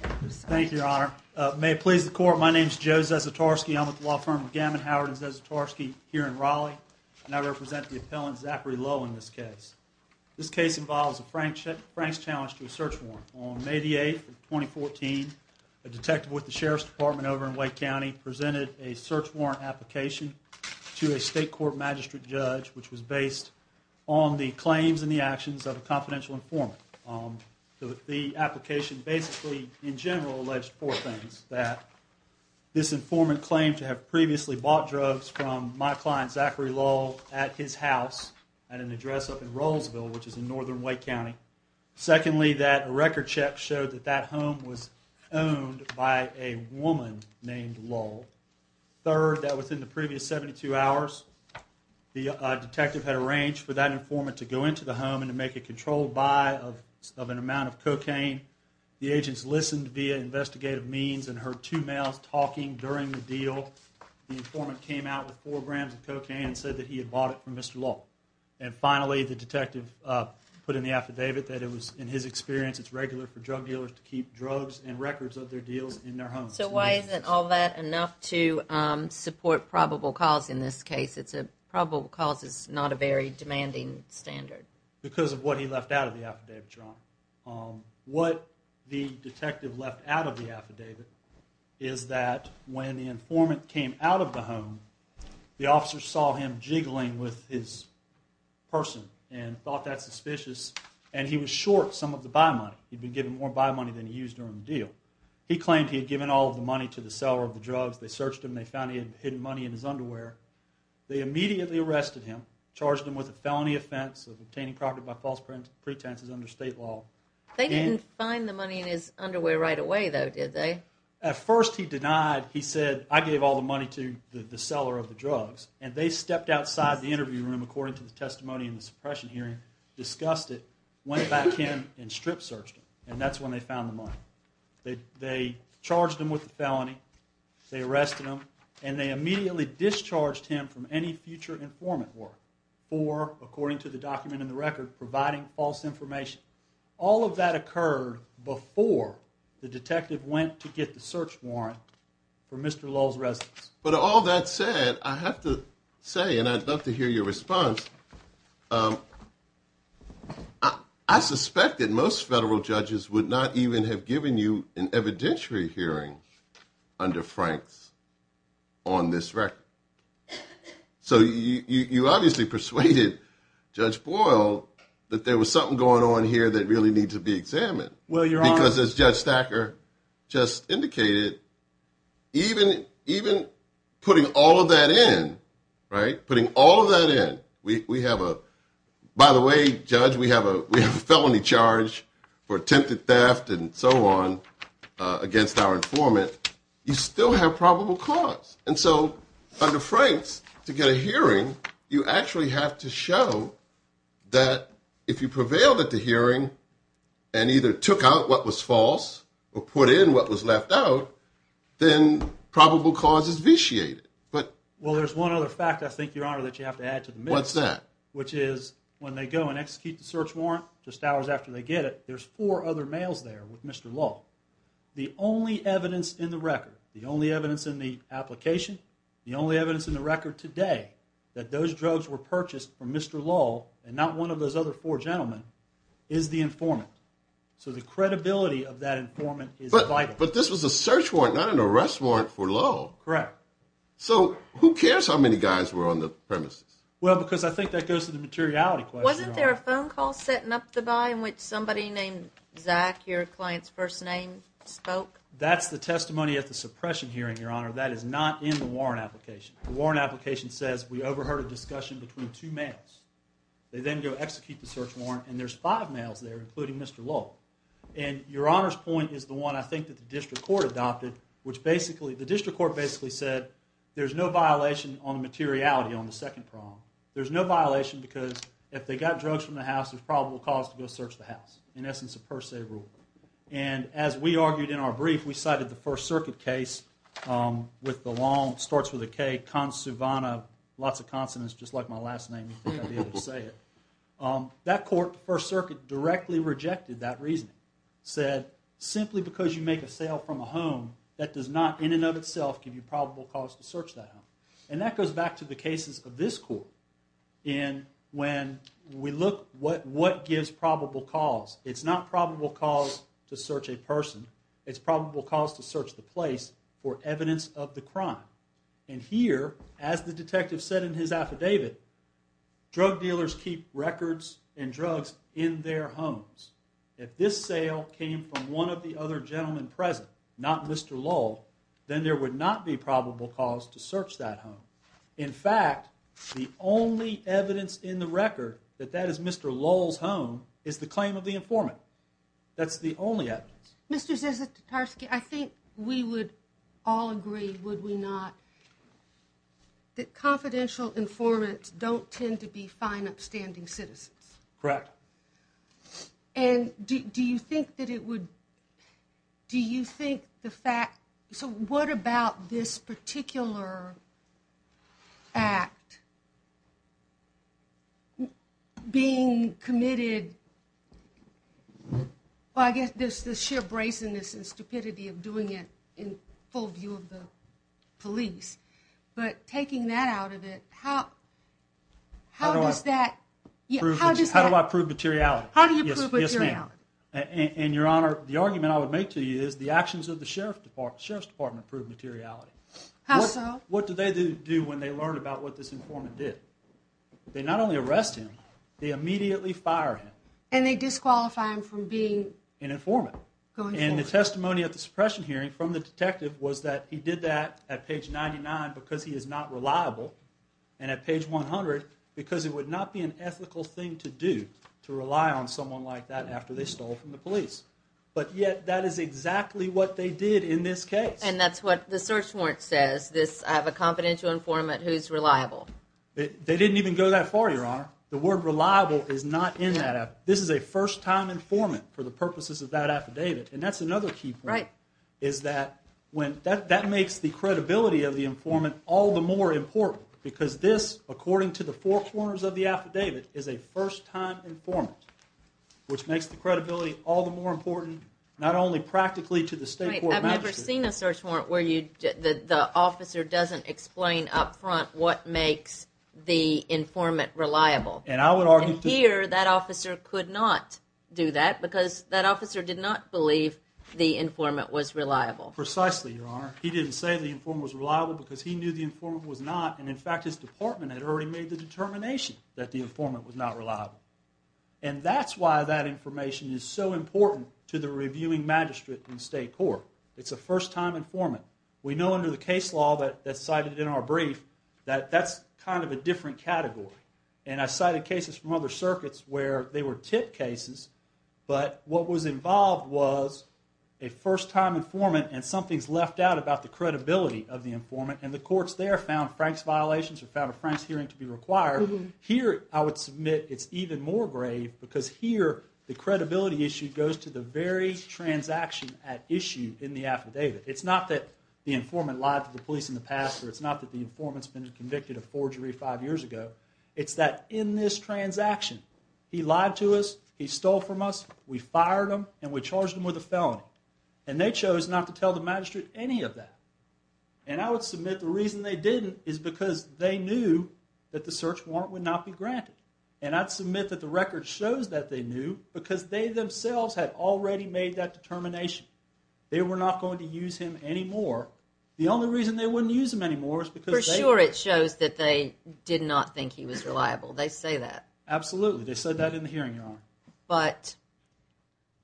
Thank you, Your Honor. May it please the court, my name is Joe Zasitarsky. I'm with the law firm McGammon Howard and Zasitarsky here in Raleigh and I represent the appellant, Zackary Lull, in this case. This case involves a Franks challenge to a search warrant. On May the 8th of 2014, a detective with the Sheriff's Department over in Wake County presented a search warrant application to a state court magistrate judge which was based on the claims and the actions of a confidential informant. The application basically, in general, alleged four things. That this informant claimed to have previously bought drugs from my client, Zackary Lull, at his house at an address up in Rollsville, which is in northern Wake County. Secondly, that a record check showed that that home was owned by a woman named Lull. Third, that within the previous 72 hours, the detective had arranged for that informant to go into the house and take a controlled buy of an amount of cocaine. The agents listened via investigative means and heard two males talking during the deal. The informant came out with four grams of cocaine and said that he had bought it from Mr. Lull. And finally, the detective put in the affidavit that it was, in his experience, it's regular for drug dealers to keep drugs and records of their deals in their homes. So why isn't all that enough to support probable cause in this case? It's a, probable cause is not a very demanding standard. Because of what he left out of the affidavit, Ron. What the detective left out of the affidavit is that when the informant came out of the home, the officer saw him jiggling with his person and thought that suspicious. And he was short some of the buy money. He'd been given more buy money than he used during the deal. He claimed he had given all the money to the seller of the drugs. They searched him. They found he had hidden money in his underwear. They immediately arrested him, charged him with a felony offense of obtaining property by false pretenses under state law. They didn't find the money in his underwear right away though, did they? At first he denied. He said I gave all the money to the seller of the drugs. And they stepped outside the interview room according to the testimony in the suppression hearing, discussed it, went back in and strip searched him. And that's when they found the money. They charged him with the felony. They arrested him. And they immediately discharged him from any future informant work for, according to the document in the record, providing false information. All of that occurred before the detective went to get the search warrant for Mr. Lowell's residence. But all that said, I have to say, and I'd love to hear your response, I suspect that most federal judges would not even have given you an evidentiary hearing under Frank's on this record. So you obviously persuaded Judge Boyle that there was something going on here that really needs to be examined. Because as Judge Stacker just indicated, even putting all of that in, putting all of that in, we have a, by the way, Judge, we have a felony charge for attempted theft and so on against our informant. You still have probable cause. And so under Frank's, to get a hearing, you actually have to show that if you prevailed at the hearing and either took out what was false or put in what was left out, then probable cause is vitiated. Well, there's one other fact, I think, Your Honor, that you have to add to the mix. What's that? Which is when they go and execute the search warrant just hours after they get it, there's four other males there with Mr. Lowell. The only evidence in the record, the only evidence in the application, the only evidence in the record today that those drugs were purchased from Mr. Lowell and not one of those other four gentlemen is the informant. So the credibility of that informant is vital. But this was a search warrant, not an arrest warrant for Lowell. Correct. So who cares how many guys were on the premises? Well, because I think that goes to the materiality question. Wasn't there a phone call setting up the buy in which somebody named Zach, your client's first name, spoke? That's the testimony at the suppression hearing, Your Honor. That is not in the warrant application. The warrant application says we overheard a two males. They then go execute the search warrant, and there's five males there, including Mr. Lowell. And Your Honor's point is the one I think that the district court adopted, which basically, the district court basically said there's no violation on the materiality on the second prong. There's no violation because if they got drugs from the house, there's probable cause to go search the house. In essence, a per se rule. And as we argued in our brief, we cited the First Circuit. That court, the First Circuit directly rejected that reasoning, said simply because you make a sale from a home that does not in and of itself give you probable cause to search that home. And that goes back to the cases of this court. And when we look what gives probable cause, it's not probable cause to search a person. It's probable cause to search the place for evidence of the crime. And here, as the detective said in his affidavit, drug dealers keep records and drugs in their homes. If this sale came from one of the other gentlemen present, not Mr Lowell, then there would not be probable cause to search that home. In fact, the only evidence in the record that that is Mr Lowell's home is the claim of the informant. That's the only evidence. Mr Zizek Tatarski, I think we would all agree, would we not, that confidential informants don't tend to be fine upstanding citizens. Correct. And do you think that it would, do you think the fact, so what about this particular act being committed, well I guess there's this sheer brazenness and stupidity of doing it in full view of the police, but taking that out of it, how does that, how do I prove materiality? Yes ma'am. And your honor, the argument I would make to you is the actions of the sheriff's department prove materiality. How so? What do they do when they learn about what this informant did? They not only arrest him, they immediately fire him. And they disqualify him from being an informant. And the testimony at the suppression hearing from the detective was that he did that at page 99 because he is not reliable and at page 100 because it would not be an ethical thing to do to rely on someone like that after they stole from the police. But yet that is exactly what they did in this case. And that's what the search warrant says, this I have a confidential informant who's reliable. They didn't even go that far your honor. The word reliable is not in that. This is a first time informant for the purposes of that affidavit. And that's another key point, is that when, that makes the credibility of the informant all the more important because this, according to the four corners of the affidavit, is a first time informant. Which makes the credibility all the more important, not only practically to the state court magistrate. I've never seen a search warrant where you, the officer doesn't explain up front what makes the informant reliable. And I would argue here that officer could not do that because that officer did not believe the informant was reliable. Precisely your honor. He didn't say the informant was reliable because he knew the informant was not. And in fact his department had already made the determination that the informant was not reliable. And that's why that information is so important to the reviewing magistrate in We know under the case law that's cited in our brief that that's kind of a different category. And I cited cases from other circuits where they were tip cases. But what was involved was a first time informant and something's left out about the credibility of the informant. And the courts there found Frank's violations or found a Frank's hearing to be required. Here I would submit it's even more grave because here the credibility issue goes to the very transaction at issue in the affidavit. It's not that the informant lied to the police in the past or it's not that the informant's been convicted of forgery five years ago. It's that in this transaction he lied to us, he stole from us, we fired him and we charged him with a felony. And they chose not to tell the magistrate any of that. And I would submit the reason they didn't is because they knew that the search warrant would not be granted. And I'd submit that the record shows that they knew because they themselves had already made that determination. They were not going to use him anymore. The only reason they wouldn't use him anymore is because... For sure it shows that they did not think he was reliable. They say that. Absolutely. They said that in the hearing, your honor. But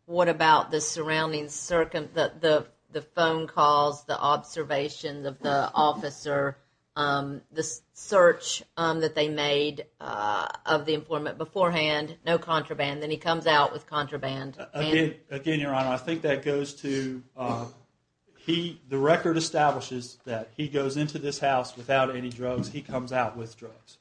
what about the surrounding circuit, the phone calls, the observations of the officer, the search that they made of the informant beforehand, no contraband, then he comes out with contraband? Again, your honor, I think that goes to, the record establishes that he goes into this house without any drugs, he comes out with drugs.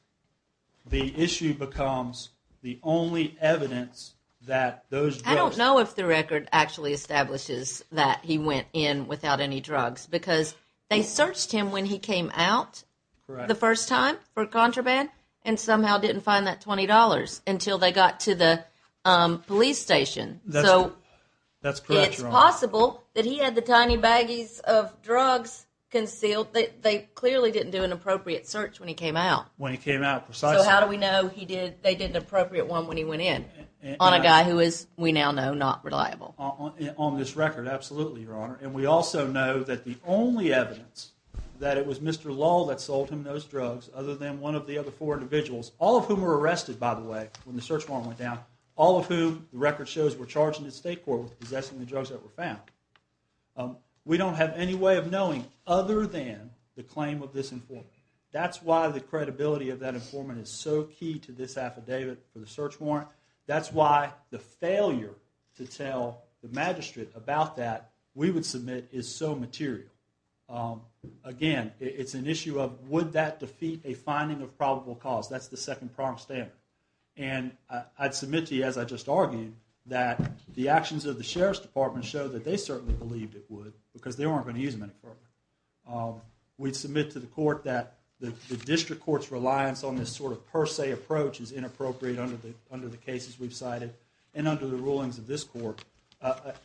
The issue becomes the only evidence that those drugs... I don't know if the record actually establishes that he went in without any drugs because they searched him when he came out the first time for contraband and somehow didn't find that $20 until they got to the police station. So, it's possible that he had the tiny baggies of drugs concealed. They clearly didn't do an appropriate search when he came out. When he came out, precisely. So, how do we know they did an appropriate one when he went in on a guy who is, we now know, not reliable? On this record, absolutely, your honor. And we also know that the only evidence that it was Mr. Lull that sold him those drugs other than one of the other four individuals, all of whom were arrested, by the way, when the search warrant went down, all of whom, the record shows, were charged in the state court with possessing the drugs that were found. We don't have any way of knowing other than the claim of this informant. That's why the credibility of that informant is so key to this affidavit for the search warrant. That's why the failure to tell the magistrate about that, we would submit, is so material. Again, it's an issue of would that defeat a finding of probable cause? That's the second pronged standard. And I'd submit to you, as I just argued, that the actions of the sheriff's department show that they certainly believed it would because they weren't going to use him any further. We'd submit to the court that the district court's reliance on this sort of per se approach is inappropriate under the cases we've cited and under the rulings of this court.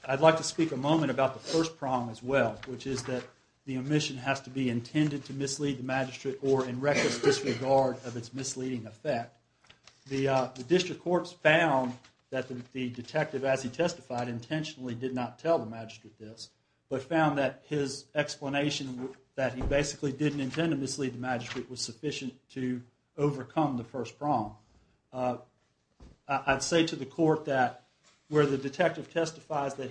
I'd like to speak a moment about the first prong as well, which is that the omission has to be intended to mislead the magistrate or in reckless disregard of its misleading effect. The district courts found that the detective, as he testified, intentionally did not tell the magistrate this, but found that his explanation that he basically didn't intend to mislead the magistrate was wrong. I'd say to the court that where the detective testifies that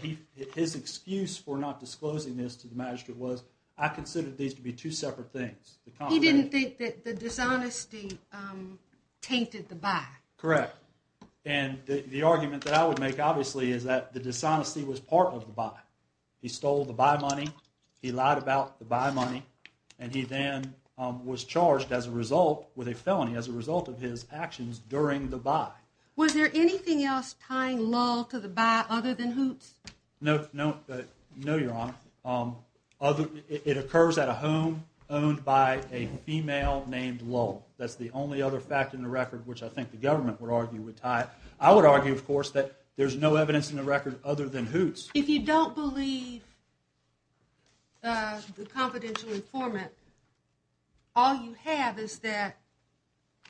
his excuse for not disclosing this to the magistrate was, I considered these to be two separate things. He didn't think that the dishonesty tainted the buy. Correct. And the argument that I would make, obviously, is that the dishonesty was part of the buy. He stole the buy money, he lied about the buy money, and he then was charged as a result with a felony as a result of his actions during the buy. Was there anything else tying lull to the buy other than hoots? No, no, no, your honor. It occurs at a home owned by a female named lull. That's the only other fact in the record, which I think the government would argue would tie it. I would argue, of course, that there's no evidence in the record other than hoots. If you don't believe the confidential informant, all you have is that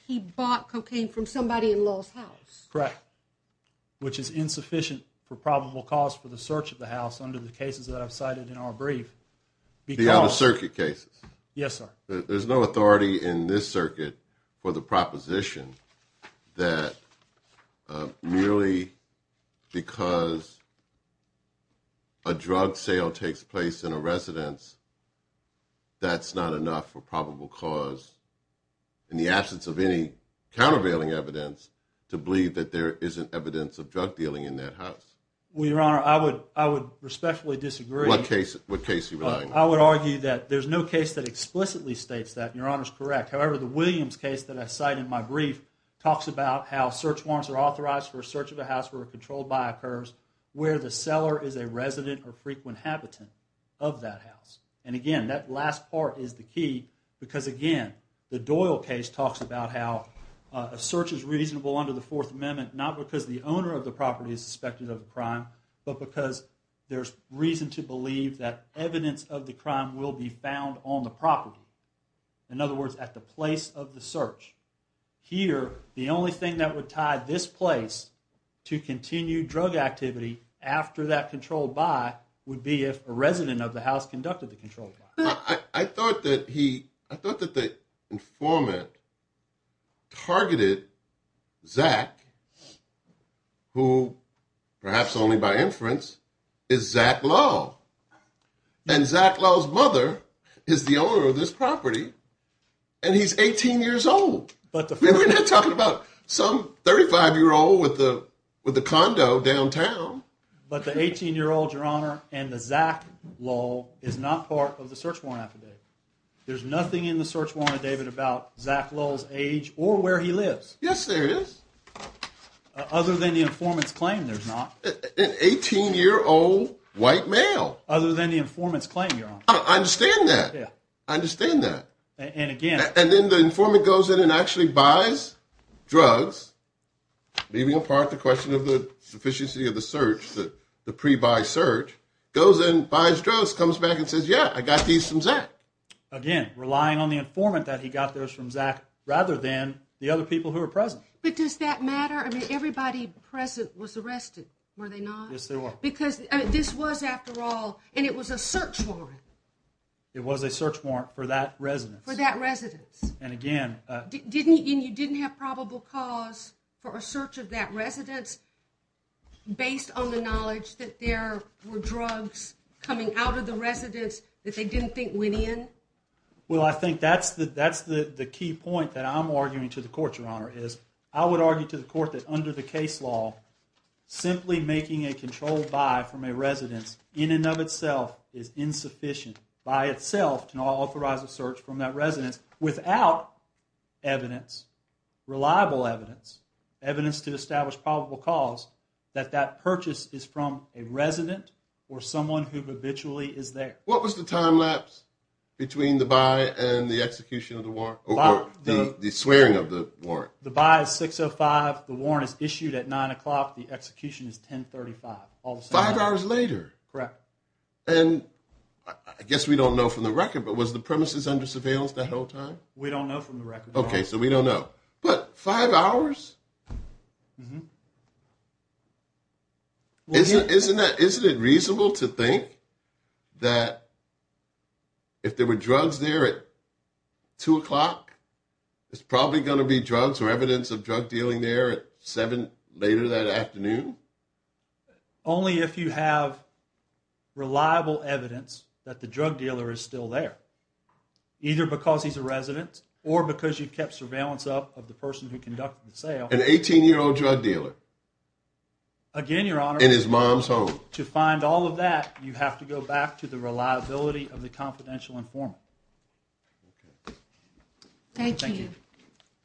he bought cocaine from somebody in lull's house. Correct. Which is insufficient for probable cause for the search of the house under the cases that I've cited in our brief. The other circuit cases. Yes, sir. There's no authority in this circuit for the proposition that merely because a drug sale takes place in a residence, that's not enough for probable cause in the absence of any countervailing evidence to believe that there isn't evidence of drug dealing in that house. Well, your honor, I would I would respectfully disagree. What case? What case? I would argue that there's no case that explicitly states that your honor's correct. However, the Williams case that I cite in my brief talks about how search warrants are authorized for a search of the house were controlled by occurs where the seller is a resident or frequent habitant of that house. And again, that last part is the key because again, the Doyle case talks about how a search is reasonable under the Fourth Amendment, not because the owner of the property is suspected of the crime, but because there's reason to believe that evidence of the crime will be found on the property. In other words, at the place of the search here, the only thing that would tie this place to continue drug activity after that controlled by would be if a resident of the house perhaps only by inference is Zach Lowe. And Zach Lowe's mother is the owner of this property. And he's 18 years old. But we're not talking about some 35 year old with the with the condo downtown. But the 18 year old, your honor, and the Zach Lowe is not part of the search warrant affidavit. There's nothing in the search warrant, David, about Zach Lowe's age or where he lives. Yes, there is. Other than the informant's claim, there's not an 18 year old white male, other than the informant's claim, your honor. I understand that. I understand that. And again, and then the informant goes in and actually buys drugs, leaving apart the question of the sufficiency of the search that the pre buy search goes in, buys drugs, comes back and says, yeah, I got these from Zach. Again, relying on the informant that he got those from Zach rather than the other people who are present. But does that matter? I mean, everybody present was arrested, were they not? Yes, they were. Because this was, after all, and it was a search warrant. It was a search warrant for that residence, for that residence. And again, didn't you didn't have probable cause for a search of that residence based on the knowledge that there were drugs coming out of the residence that they didn't think went in? Well, I think that's the key point that I'm arguing to the court, your honor, is I would argue to the court that under the case law, simply making a controlled buy from a residence in and of itself is insufficient by itself to authorize a search from that residence without evidence, reliable evidence, evidence to establish probable cause that that purchase is from a resident or someone who habitually is there. What was the time lapse between the buy and the execution of the warrant, or the swearing of the warrant? The buy is 6.05, the warrant is issued at nine o'clock, the execution is 10.35. Five hours later? Correct. And I guess we don't know from the record, but was the premises under surveillance that whole time? We don't know from the record. Okay, so we don't know. But five hours? Mm-hmm. Isn't it reasonable to think that if there were drugs there at two o'clock, there's probably going to be drugs or evidence of drug dealing there at seven later that afternoon? Only if you have reliable evidence that the drug dealer is still there, either because he's a resident or because you've kept surveillance up of the person who conducted the sale. An 18-year-old drug dealer. Again, Your Honor. In his mom's home. To find all of that, you have to go back to the reliability of the confidential informant. Thank you.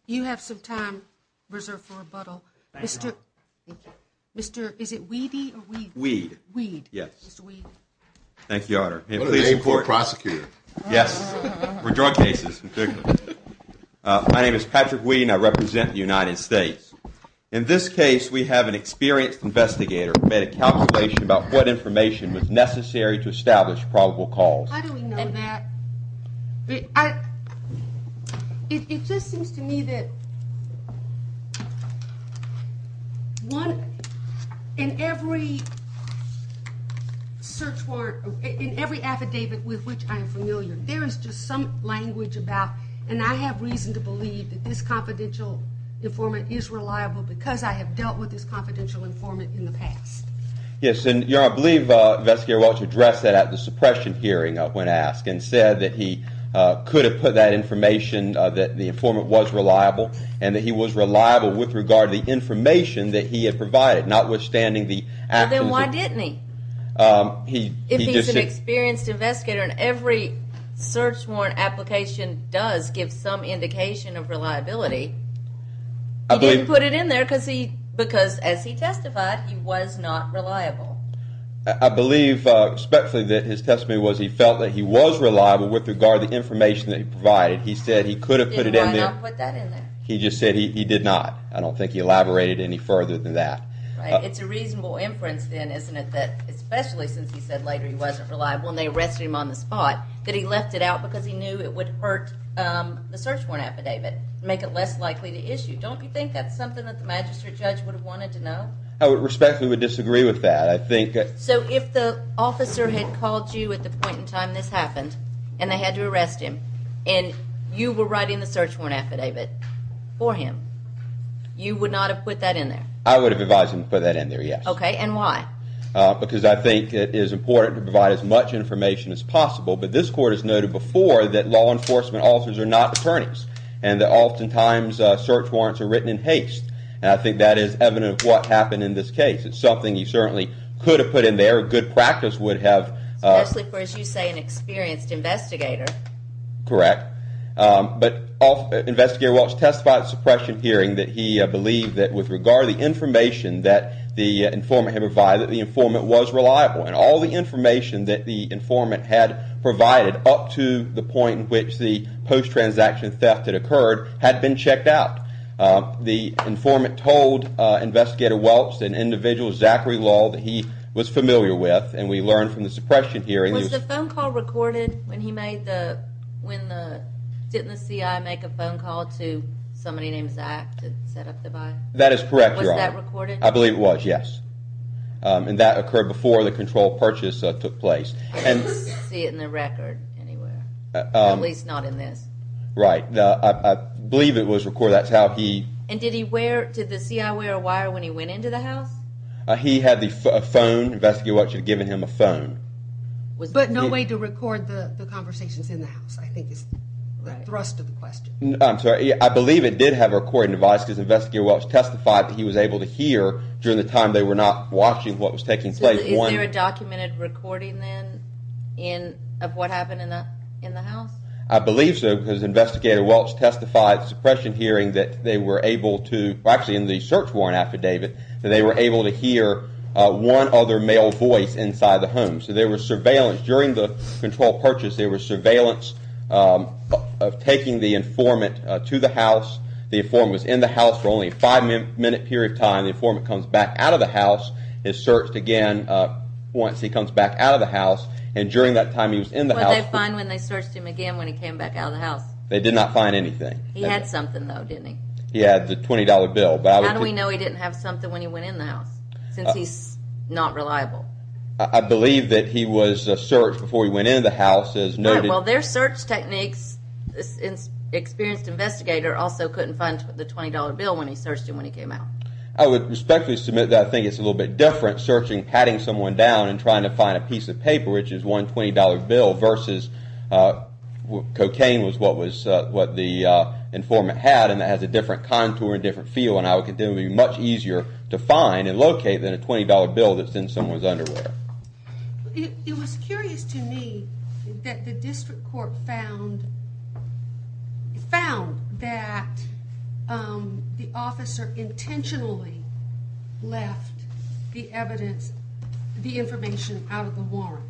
You have some time reserved for rebuttal. Thank you, Your Honor. Mr., is it Weedy or Weed? Weed. Weed. Yes. Mr. Weed. Thank you, Your Honor. What a name for a prosecutor. Yes, for drug cases. My name is Patrick Weed and I represent the United States. In this case, we have an experienced investigator who made a calculation about what information was necessary to establish probable cause. How do we know that? It just seems to me that one in every search warrant, in every affidavit with which I am familiar, there is just some language about and I have reason to believe that this confidential informant is reliable because I have dealt with this confidential informant in the past. Yes, and Your Honor, I believe Investigator Welch addressed that at the suppression hearing when asked and said that he could have put that information that the informant was reliable and that he was reliable with the regard to the information that he had provided, notwithstanding the actions. Then why didn't he? If he's an experienced investigator and every search warrant application does give some indication of reliability, he didn't put it in there because as he testified, he was not reliable. I believe, respectfully, that his testimony was he felt that he was reliable with regard to the information that he provided. He said he could have put it in there. Why not put that in there? He just said he did not. I don't think he elaborated any further than that. It's a reasonable inference then, isn't it, that especially since he said later he wasn't reliable and they arrested him on the spot, that he left it out because he knew it would hurt the search warrant affidavit, make it less likely to issue. Don't you think that's something that the magistrate judge would have wanted to know? I respectfully would disagree with that. I think... So if the officer had called you at the point in time this happened and they had to arrest him and you were writing the search warrant affidavit for him, you would not have put that in there? I would have advised him to put that in there, yes. Okay, and why? Because I think it is important to provide as much information as possible, but this court has noted before that law enforcement officers are not attorneys and that oftentimes search warrants are written in haste and I think that is evident of what happened in this case. It's something he certainly could have put in there. Especially for, as you say, an experienced investigator. Correct, but Investigator Welch testified at the suppression hearing that he believed that with regard to the information that the informant had provided, that the informant was reliable and all the information that the informant had provided up to the point in which the post-transaction theft had occurred had been checked out. The informant told Investigator Welch, an individual, Zachary Lull, that he was familiar with and we learned from the suppression hearing. Was the phone call recorded when he made the, when the, didn't the CI make a phone call to somebody named Zach to set up the buy? That is correct, Your Honor. Was that recorded? I believe it was, yes, and that occurred before the controlled purchase took place. I don't see it in the record anywhere, at least not in this. Right, I believe it was recorded, that's how he... And did he wear, did the CI wear a wire when he went into the house? He had the phone, Investigator Welch had given him a phone. But no way to record the conversations in the house, I think is the thrust of the question. I'm sorry, I believe it did have a recording device because Investigator Welch testified that he was able to hear during the time they were not watching what was taking place. Is there a documented recording then of what happened in the house? I believe so because Investigator Welch testified suppression hearing that they were able to, actually in the search warrant affidavit, that they were able to hear one other male voice inside the home. So there was surveillance during the control purchase, there was surveillance of taking the informant to the house. The informant was in the house for only a five minute period of time. The informant comes back out of the house, is searched again once he comes back out of the house, and during that time he was in the house. What did they find when they searched the house? He had something though, didn't he? He had the $20 bill. How do we know he didn't have something when he went in the house? Since he's not reliable. I believe that he was searched before he went in the house as noted. Well their search techniques, experienced investigator also couldn't find the $20 bill when he searched him when he came out. I would respectfully submit that I think it's a little bit different searching, patting someone down and trying to find a piece of paper which is one $20 bill versus cocaine was what the informant had and that has a different contour and different feel and I would contend it would be much easier to find and locate than a $20 bill that's in someone's underwear. It was curious to me that the district court found that the officer intentionally left the evidence, the information out of the warrant.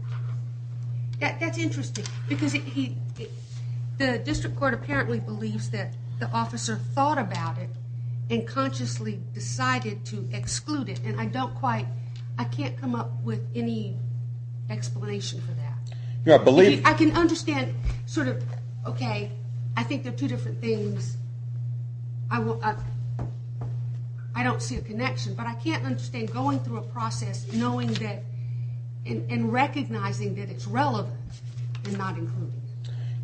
That's interesting because the district court apparently believes that the officer thought about it and consciously decided to exclude it and I don't quite, I can't come up with any explanation for that. I can understand sort of okay, I think they're two different things. I don't see a connection but I can't understand going through a process knowing that and recognizing that it's relevant and not included.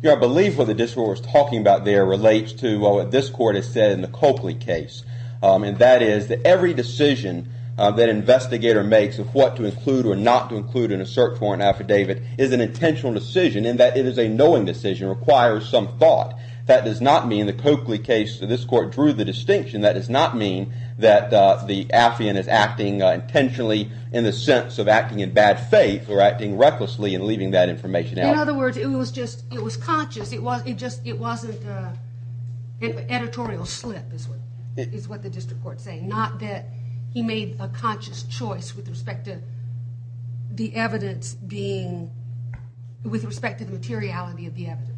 I believe what the district was talking about there relates to what this court has said in the Coakley case and that is that every decision that investigator makes of what to include or not to include in a search warrant affidavit is an intentional decision and that it is a knowing decision, requires some thought. That does not mean the Coakley case, this court drew the in the sense of acting in bad faith or acting recklessly and leaving that information out. In other words, it was just, it was conscious, it just wasn't an editorial slip is what the district court is saying. Not that he made a conscious choice with respect to the evidence being, with respect to the materiality of the evidence.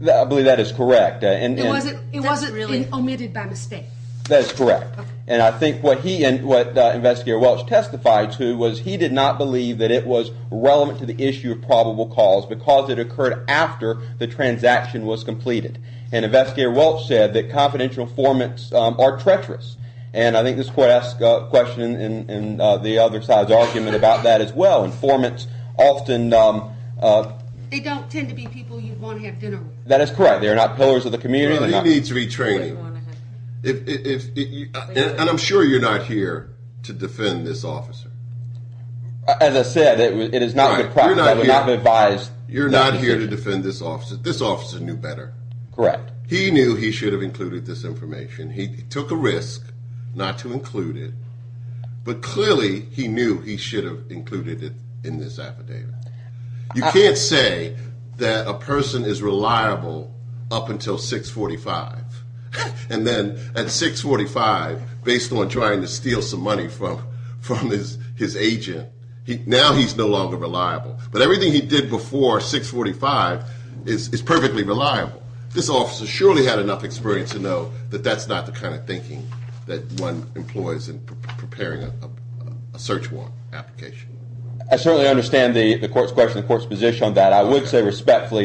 I believe that is correct. It wasn't omitted by mistake. That is correct and I think what he and what investigator Welch testified to was he did not believe that it was relevant to the issue of probable cause because it occurred after the transaction was completed and investigator Welch said that confidential formants are treacherous and I think this court asked a question in the other side's argument about that as well and formants often. They don't tend to be people you want to have dinner with. That is correct, they're not pillars of the community. He needs retraining and I'm sure you're not here to defend this officer. As I said, it is not a good practice. You're not here to defend this officer. This officer knew better. Correct. He knew he should have included this information. He took a risk not to include it but clearly he knew he should have included it in this affidavit. You can't say that a person is reliable up until 645 and then at 645 based on trying to steal some money from his agent, now he's no longer reliable but everything he did before 645 is perfectly reliable. This officer surely had enough experience to know that that's not the kind of thinking that one employs in preparing a search warrant application. I certainly understand the respect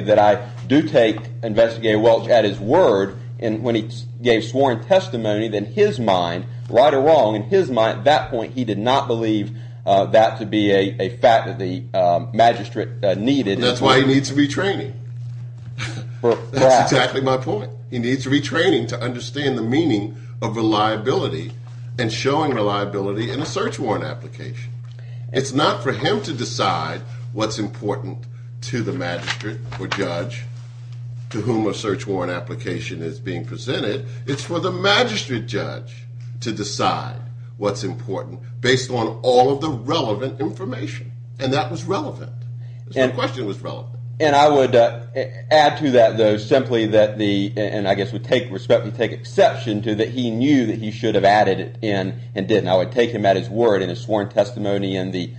that I do take investigator Welch at his word and when he gave sworn testimony then his mind, right or wrong, in his mind at that point he did not believe that to be a fact that the magistrate needed. That's why he needs retraining. That's exactly my point. He needs retraining to understand the meaning of reliability and showing reliability in a search warrant application. It's not for him to decide what's important to the magistrate or judge to whom a search warrant application is being presented. It's for the magistrate judge to decide what's important based on all of the relevant information and that was relevant. The question was relevant. And I would add to that though simply that the and I guess we take respect we take exception to that he knew that he should have added it in and didn't. I would take him at his word in his sworn testimony and the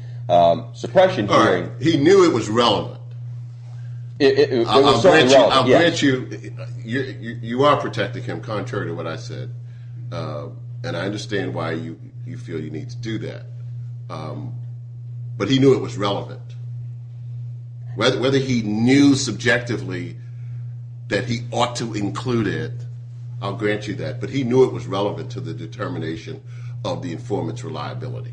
suppression hearing. He knew it was relevant. I'll grant you you are protecting him contrary to what I said and I understand why you you feel you need to do that but he knew it was relevant. Whether he knew subjectively that he ought to include it I'll grant you that but he was relevant to the determination of the informant's reliability.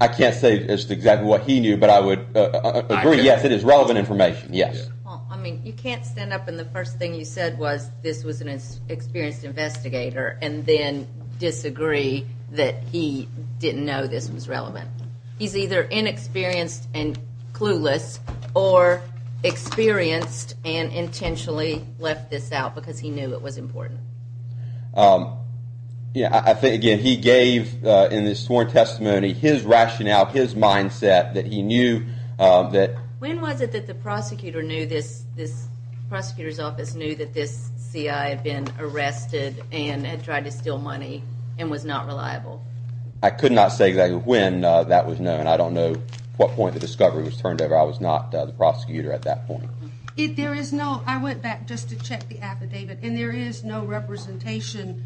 I can't say just exactly what he knew but I would agree yes it is relevant information yes. Well I mean you can't stand up and the first thing you said was this was an experienced investigator and then disagree that he didn't know this was relevant. He's either inexperienced and clueless or experienced and intentionally left this out because he knew it was important. Yeah I think again he gave in his sworn testimony his rationale his mindset that he knew that. When was it that the prosecutor knew this this prosecutor's office knew that this CI had been arrested and had tried to steal money and was not reliable? I could not say exactly when that was known. I don't know what point the discovery was I was not the prosecutor at that point. There is no I went back just to check the affidavit and there is no representation.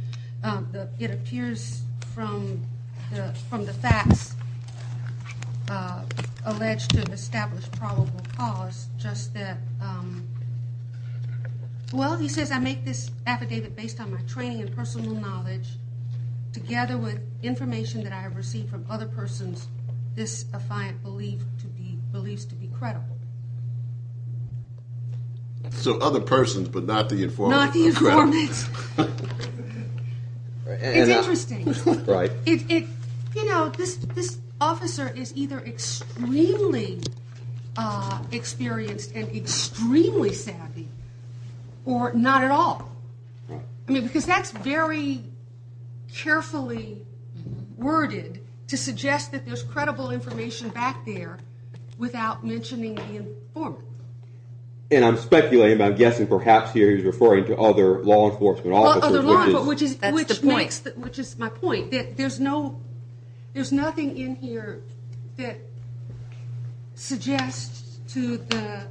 It appears from the facts alleged to establish probable cause just that well he says I make this affidavit based on my training and personal knowledge together with credible. So other persons but not the informant? Not the informant. It's interesting. Right. You know this officer is either extremely experienced and extremely savvy or not at all. I mean because that's very carefully worded to suggest that there's credible information back there without mentioning the informant. And I'm speculating I'm guessing perhaps here he's referring to other law enforcement officers. Which is my point that there's no there's nothing in here that suggests to the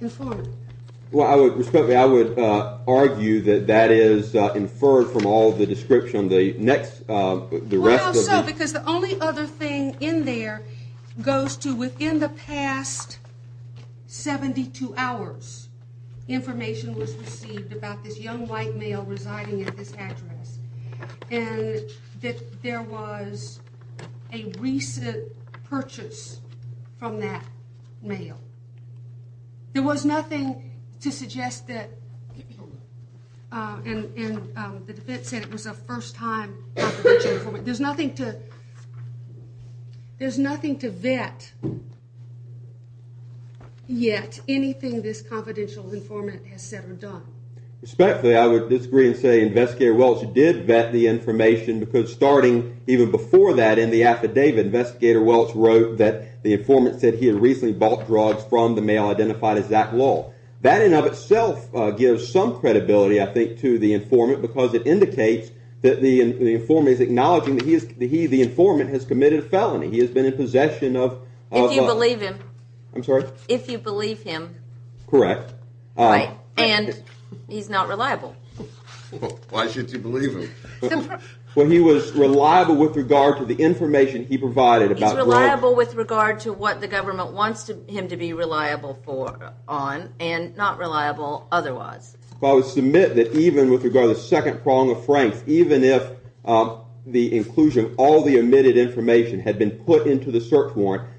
informant. Well I would respectfully I would argue that that is inferred from all the description the next the rest of it. Because the only other thing in there goes to within the past 72 hours information was received about this young white male residing at this address and that there was a recent purchase from that male. There was nothing to suggest that and the defense said it was a first time. There's nothing to vet yet anything this confidential informant has said or done. Respectfully I would disagree and say investigator Welch did vet the information because starting even before that in the affidavit investigator Welch wrote that the informant said he had recently bought drugs from the male identified as Zach Lull. That in and of itself gives some credibility I think to the informant because it indicates that the informant is acknowledging that he the informant has committed a felony. He has been in possession of. If you believe him. I'm sorry? If you believe him. Correct. And he's not reliable. Why should you believe him? Well he was reliable with regard to the information he provided. He's reliable with regard to what the government wants him to be reliable for on and not reliable otherwise. I would submit that even with regard to the second prong of franks even if the inclusion all the omitted information had been put into the search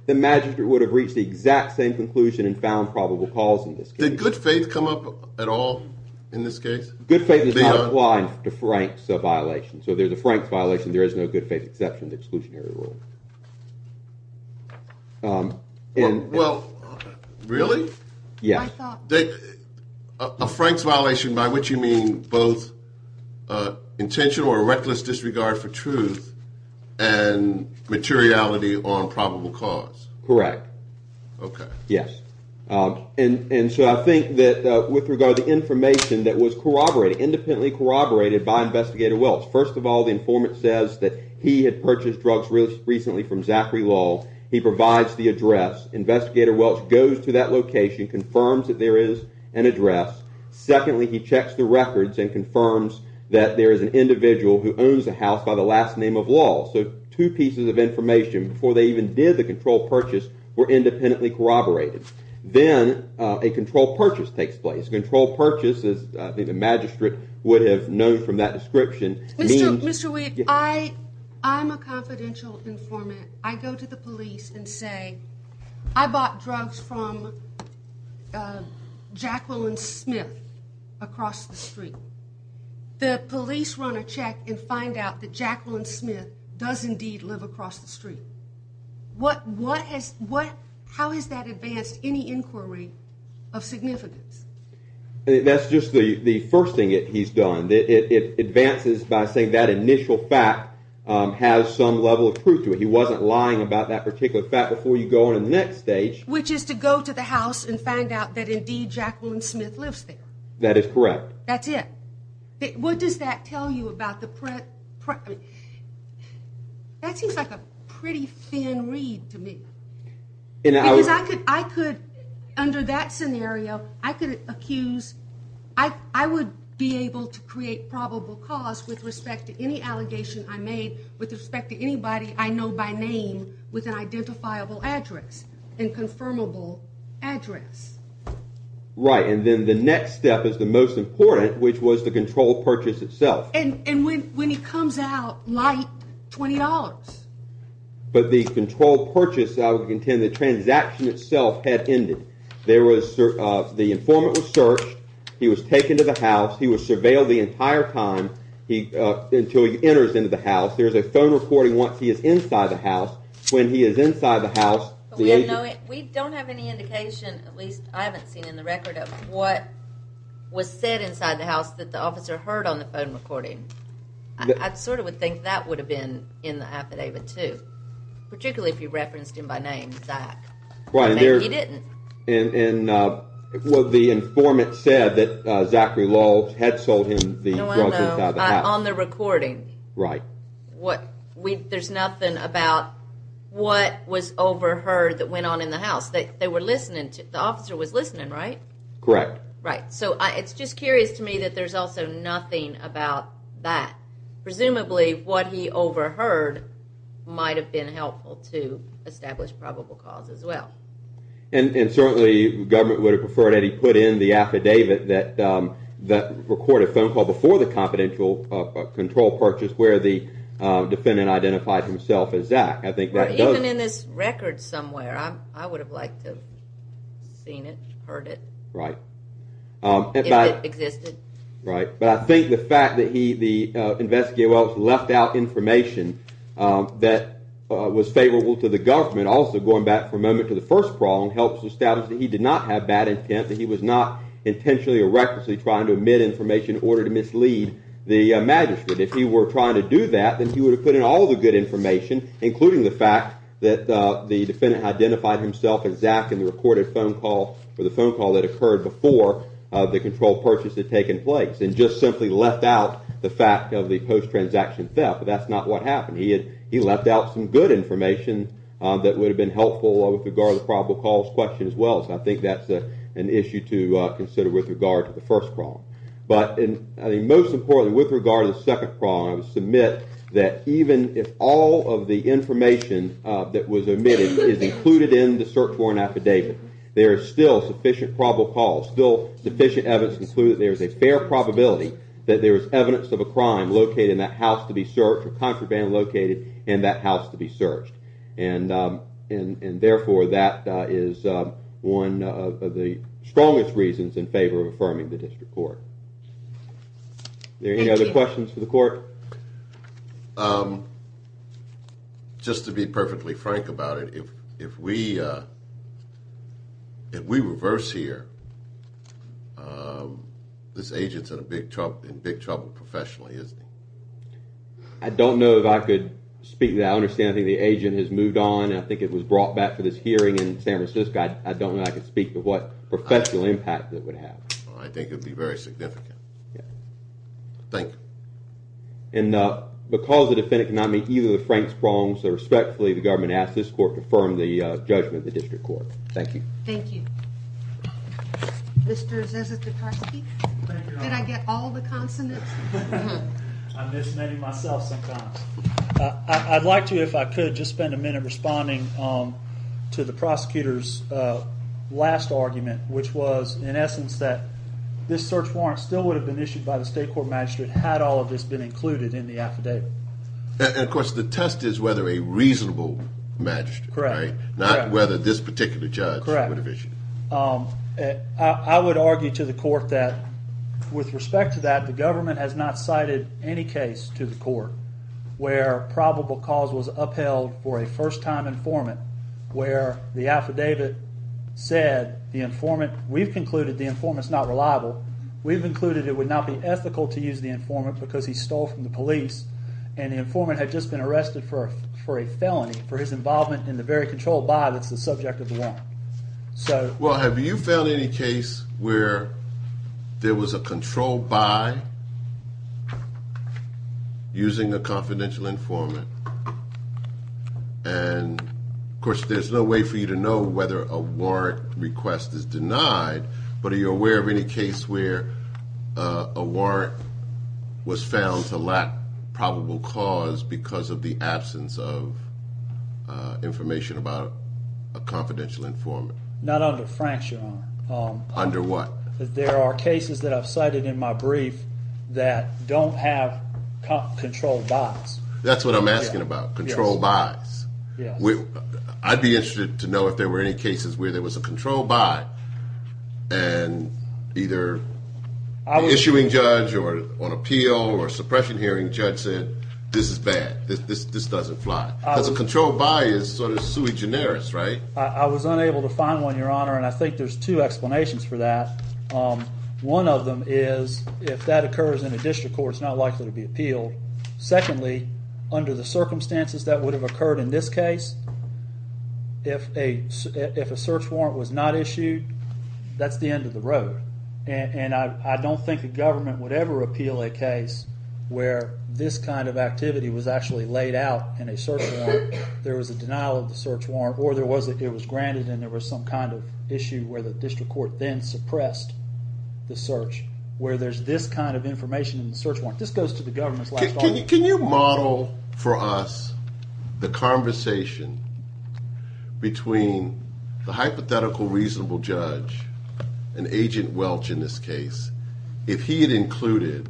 the magister would have reached the exact same conclusion and found probable cause in this good faith come up at all in this case. Good faith is not applying to Frank's violation. So there's a frank violation. There is no good faith exception to exclusionary rule. Well really? Yeah. A Frank's violation by which you mean both intentional or reckless disregard for truth and materiality on probable cause. Correct. Okay. Yes. And so I think that with regard to information that was corroborated independently corroborated by investigator Welch. First of all the informant says that he had purchased drugs recently from Zachary Law. He provides the address. Investigator Welch goes to that location confirms that there is an address. Secondly he checks the records and confirms that there is an individual who owns a house by the last name of Law. So two pieces of information before they even did the control purchase were independently corroborated. Then a control purchase takes place. Control purchase is I think the magistrate would have known from that description. Mr. Weed I'm a confidential informant. I go to the police and say I bought drugs from Jacqueline Smith across the street. The police run a check and find out that Jacqueline Smith does indeed live across the street. How has that advanced any inquiry of significance? That's just the first thing that he's done. It advances by saying that initial fact has some level of truth to it. He wasn't lying about that particular fact before you go on the next stage. Which is to go to the house and find out that indeed Jacqueline Smith lives there. That is correct. That's it. What does that tell you about the print? That seems like a pretty thin read to me. Because I could under that scenario I could accuse, I would be able to create probable cause with respect to any allegation I made with respect to anybody I know by name with an identifiable address and confirmable address. Right and then the next step is the most important which was the control purchase itself. And when he comes out like $20. But the control purchase I would contend the transaction itself had ended. The informant was searched. He was taken to the house. He was surveilled the entire time until he enters into the house. There's a phone recording once he is inside the house. When he is inside the house. We don't have any indication at least I haven't seen in the record of what was said inside the house that the officer heard on the phone recording. I sort of would think that would have been in the affidavit too. Particularly if you referenced him by name, Zach. He didn't. And what the informant said that Zachary Lulz had sold him on the recording. Right. There's nothing about what was overheard that went on in the house. The officer was listening right? Correct. Right. So it's just curious to me that there's also nothing about that. Presumably what he overheard might have been helpful to establish probable cause as well. And certainly government would have preferred that he put in the affidavit that recorded a phone call before the confidential control purchase where the defendant identified himself as Zach. Even in this record somewhere I would have liked to have seen it, heard it. Right. If it existed. Right. But I think the fact that the investigator left out information that was favorable to the government also going back for a moment to the first problem helps establish that he did not have bad intent. That he was not intentionally or recklessly trying to omit information in order to mislead the magistrate. If he were trying to do that then he would have put in all the good information including the fact that the defendant identified himself as Zach in the recorded phone call or the phone call that occurred before the control purchase had taken place and just simply left out the fact of the post-transaction theft. But that's not what happened. He had he left out some good information that would have been helpful with regard to the probable cause question as well. So I think that's an issue to consider with regard to the first problem. But I think most importantly with regard to the second problem I would submit that even if all of the information that was omitted is included in the search warrant affidavit there is still sufficient probable cause, still sufficient evidence to conclude that there is a fair probability that there is evidence of a crime located in that house to be searched or contraband located in that house to be searched. And therefore that is one of the strongest reasons in favor of affirming the district court. Any other questions for the court? Just to be perfectly frank about it, if we reverse here this agent's in a big trouble, in big trouble professionally isn't he? I don't know if I could speak to that. I understand I think the agent has moved on and I think it was brought back for this hearing in San Francisco. I don't know I could speak to what professional impact that would have. I think it'd be very significant. Yeah. Thank you. And because the defendant cannot meet either of the Franks wrongs so respectfully the government asked this court to affirm the judgment of the Mr. Zizek-Giparski. Did I get all the consonants? I miss many myself sometimes. I'd like to if I could just spend a minute responding to the prosecutor's last argument which was in essence that this search warrant still would have been issued by the state court magistrate had all of this been included in the affidavit. And of course the test is whether a reasonable magistrate right not whether this particular judge would have issued it. I would argue to the court that with respect to that the government has not cited any case to the court where probable cause was upheld for a first-time informant where the affidavit said the informant we've concluded the informant's not reliable. We've concluded it would not be ethical to use the informant because he stole from the police and the informant had just been arrested for a felony for his involvement in the very control by that's the subject of the warrant. So well have you found any case where there was a control by using a confidential informant and of course there's no way for you to know whether a warrant request is denied but are you aware of any case where a warrant was found to lack probable cause because of the absence of information about a confidential informant? Not under Frank's your honor. Under what? There are cases that I've cited in my brief that don't have control by. That's what I'm asking about control by. I'd be interested to know if the issuing judge or on appeal or suppression hearing judge said this is bad this this doesn't fly because a control by is sort of sui generis right? I was unable to find one your honor and I think there's two explanations for that. One of them is if that occurs in a district court it's not likely to be appealed. Secondly under the circumstances that would have occurred in this case if a if a search warrant was not issued that's the end of the road and I don't think the government would ever appeal a case where this kind of activity was actually laid out in a search warrant. There was a denial of the search warrant or there was it was granted and there was some kind of issue where the district court then suppressed the search where there's this kind of information in Can you model for us the conversation between the hypothetical reasonable judge and agent welch in this case if he had included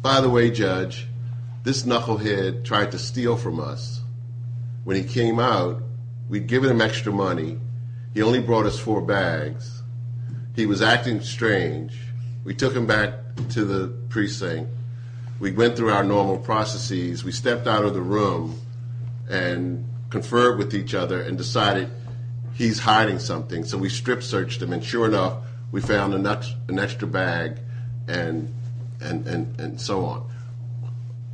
by the way judge this knucklehead tried to steal from us when he came out we'd given him extra money he only brought us four bags he was acting strange we took him back to the precinct we went through our normal processes we stepped out of the room and conferred with each other and decided he's hiding something so we strip searched him and sure enough we found a nut an extra bag and and and and so on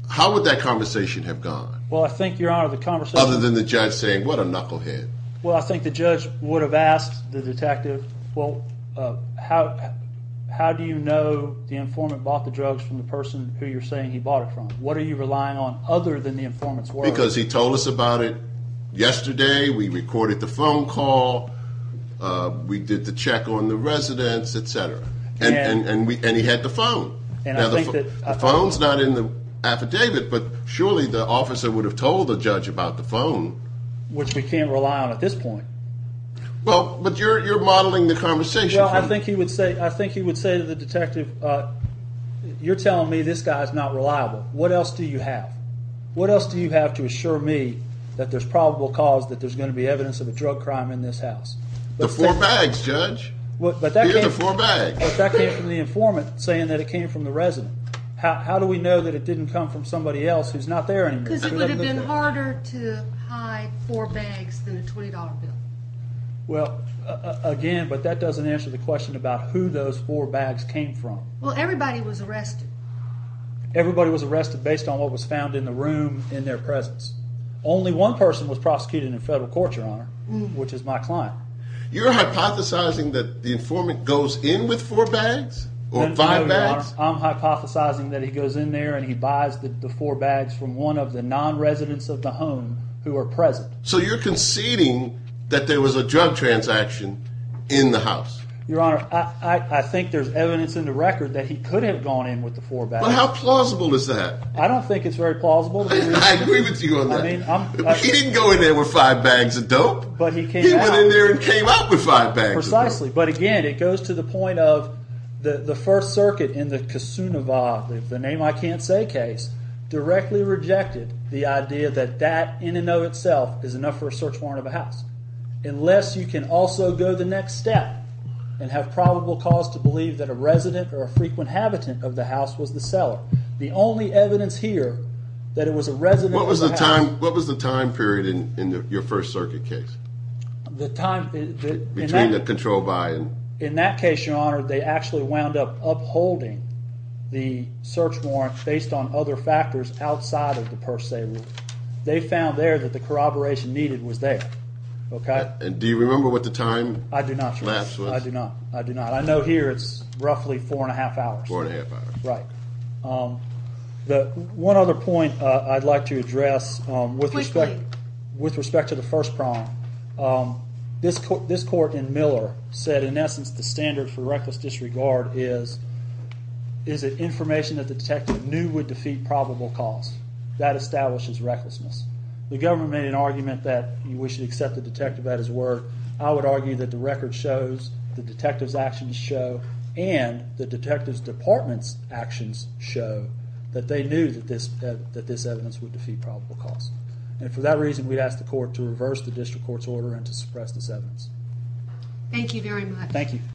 how would that conversation have gone well I think your honor the conversation other than the judge saying what a knucklehead well I think the judge would have asked the detective well how how do you know the informant bought the drugs from the person who you're saying he bought it from what are you relying on other than the informant's work because he told us about it yesterday we recorded the phone call we did the check on the residence etc and and we and he had the phone and I think that the phone's not in the affidavit but surely the officer would have told the judge about the phone which we can't rely on at this point well but you're you're modeling the conversation well I think he would say I think he would say to the detective uh you're telling me this guy is not reliable what else do you have what else do you have to assure me that there's probable cause that there's going to be evidence of a drug crime in this house the four bags judge what but that came the four bags but that came from the informant saying that it came from the resident how do we know that it didn't come from somebody else who's not there anymore because it would have been harder to hide four bags than a twenty dollar bill well again but that doesn't answer the question about who those four bags came from well everybody was arrested everybody was arrested based on what was found in the room in their presence only one person was prosecuted in federal court your honor which is my client you're hypothesizing that the informant goes in with four bags or five bags I'm hypothesizing that he goes in there and he buys the four bags from one of the non-residents of the home who are present so you're conceding that there was a drug transaction in the house your honor I I think there's evidence in the record that he could have gone in with the four bags but how plausible is that I don't think it's very plausible I agree with you on that I mean he didn't go in there with five bags of dope but he came in there and came out with five bags precisely but again it goes to the point of the the first circuit in the name I can't say case directly rejected the idea that that in and of itself is enough for a search warrant of a house unless you can also go the next step and have probable cause to believe that a resident or a frequent habitant of the house was the seller the only evidence here that it was a resident what was the time what was the time period in in your first circuit case the time between the control buy-in in that case your honor they actually wound up upholding the search warrant based on other factors outside of the per se rule they found there that the corroboration needed was there okay and do you remember what the time I do not I do not I do not I know here it's roughly four and a half hours four and a half hours right um the one other point uh I'd like to address um with respect with respect to the first crime um this court this court in miller said in essence the standard for reckless disregard is is it information that the detective knew would defeat probable cause that establishes recklessness the government made an argument that we should accept the detective at his word I would argue that the record shows the detective's actions show and the detective's department's actions show that they knew that this that this evidence would defeat probable cause and for that reason we'd ask the court to reverse the district court's order and to suppress this evidence thank you very much thank you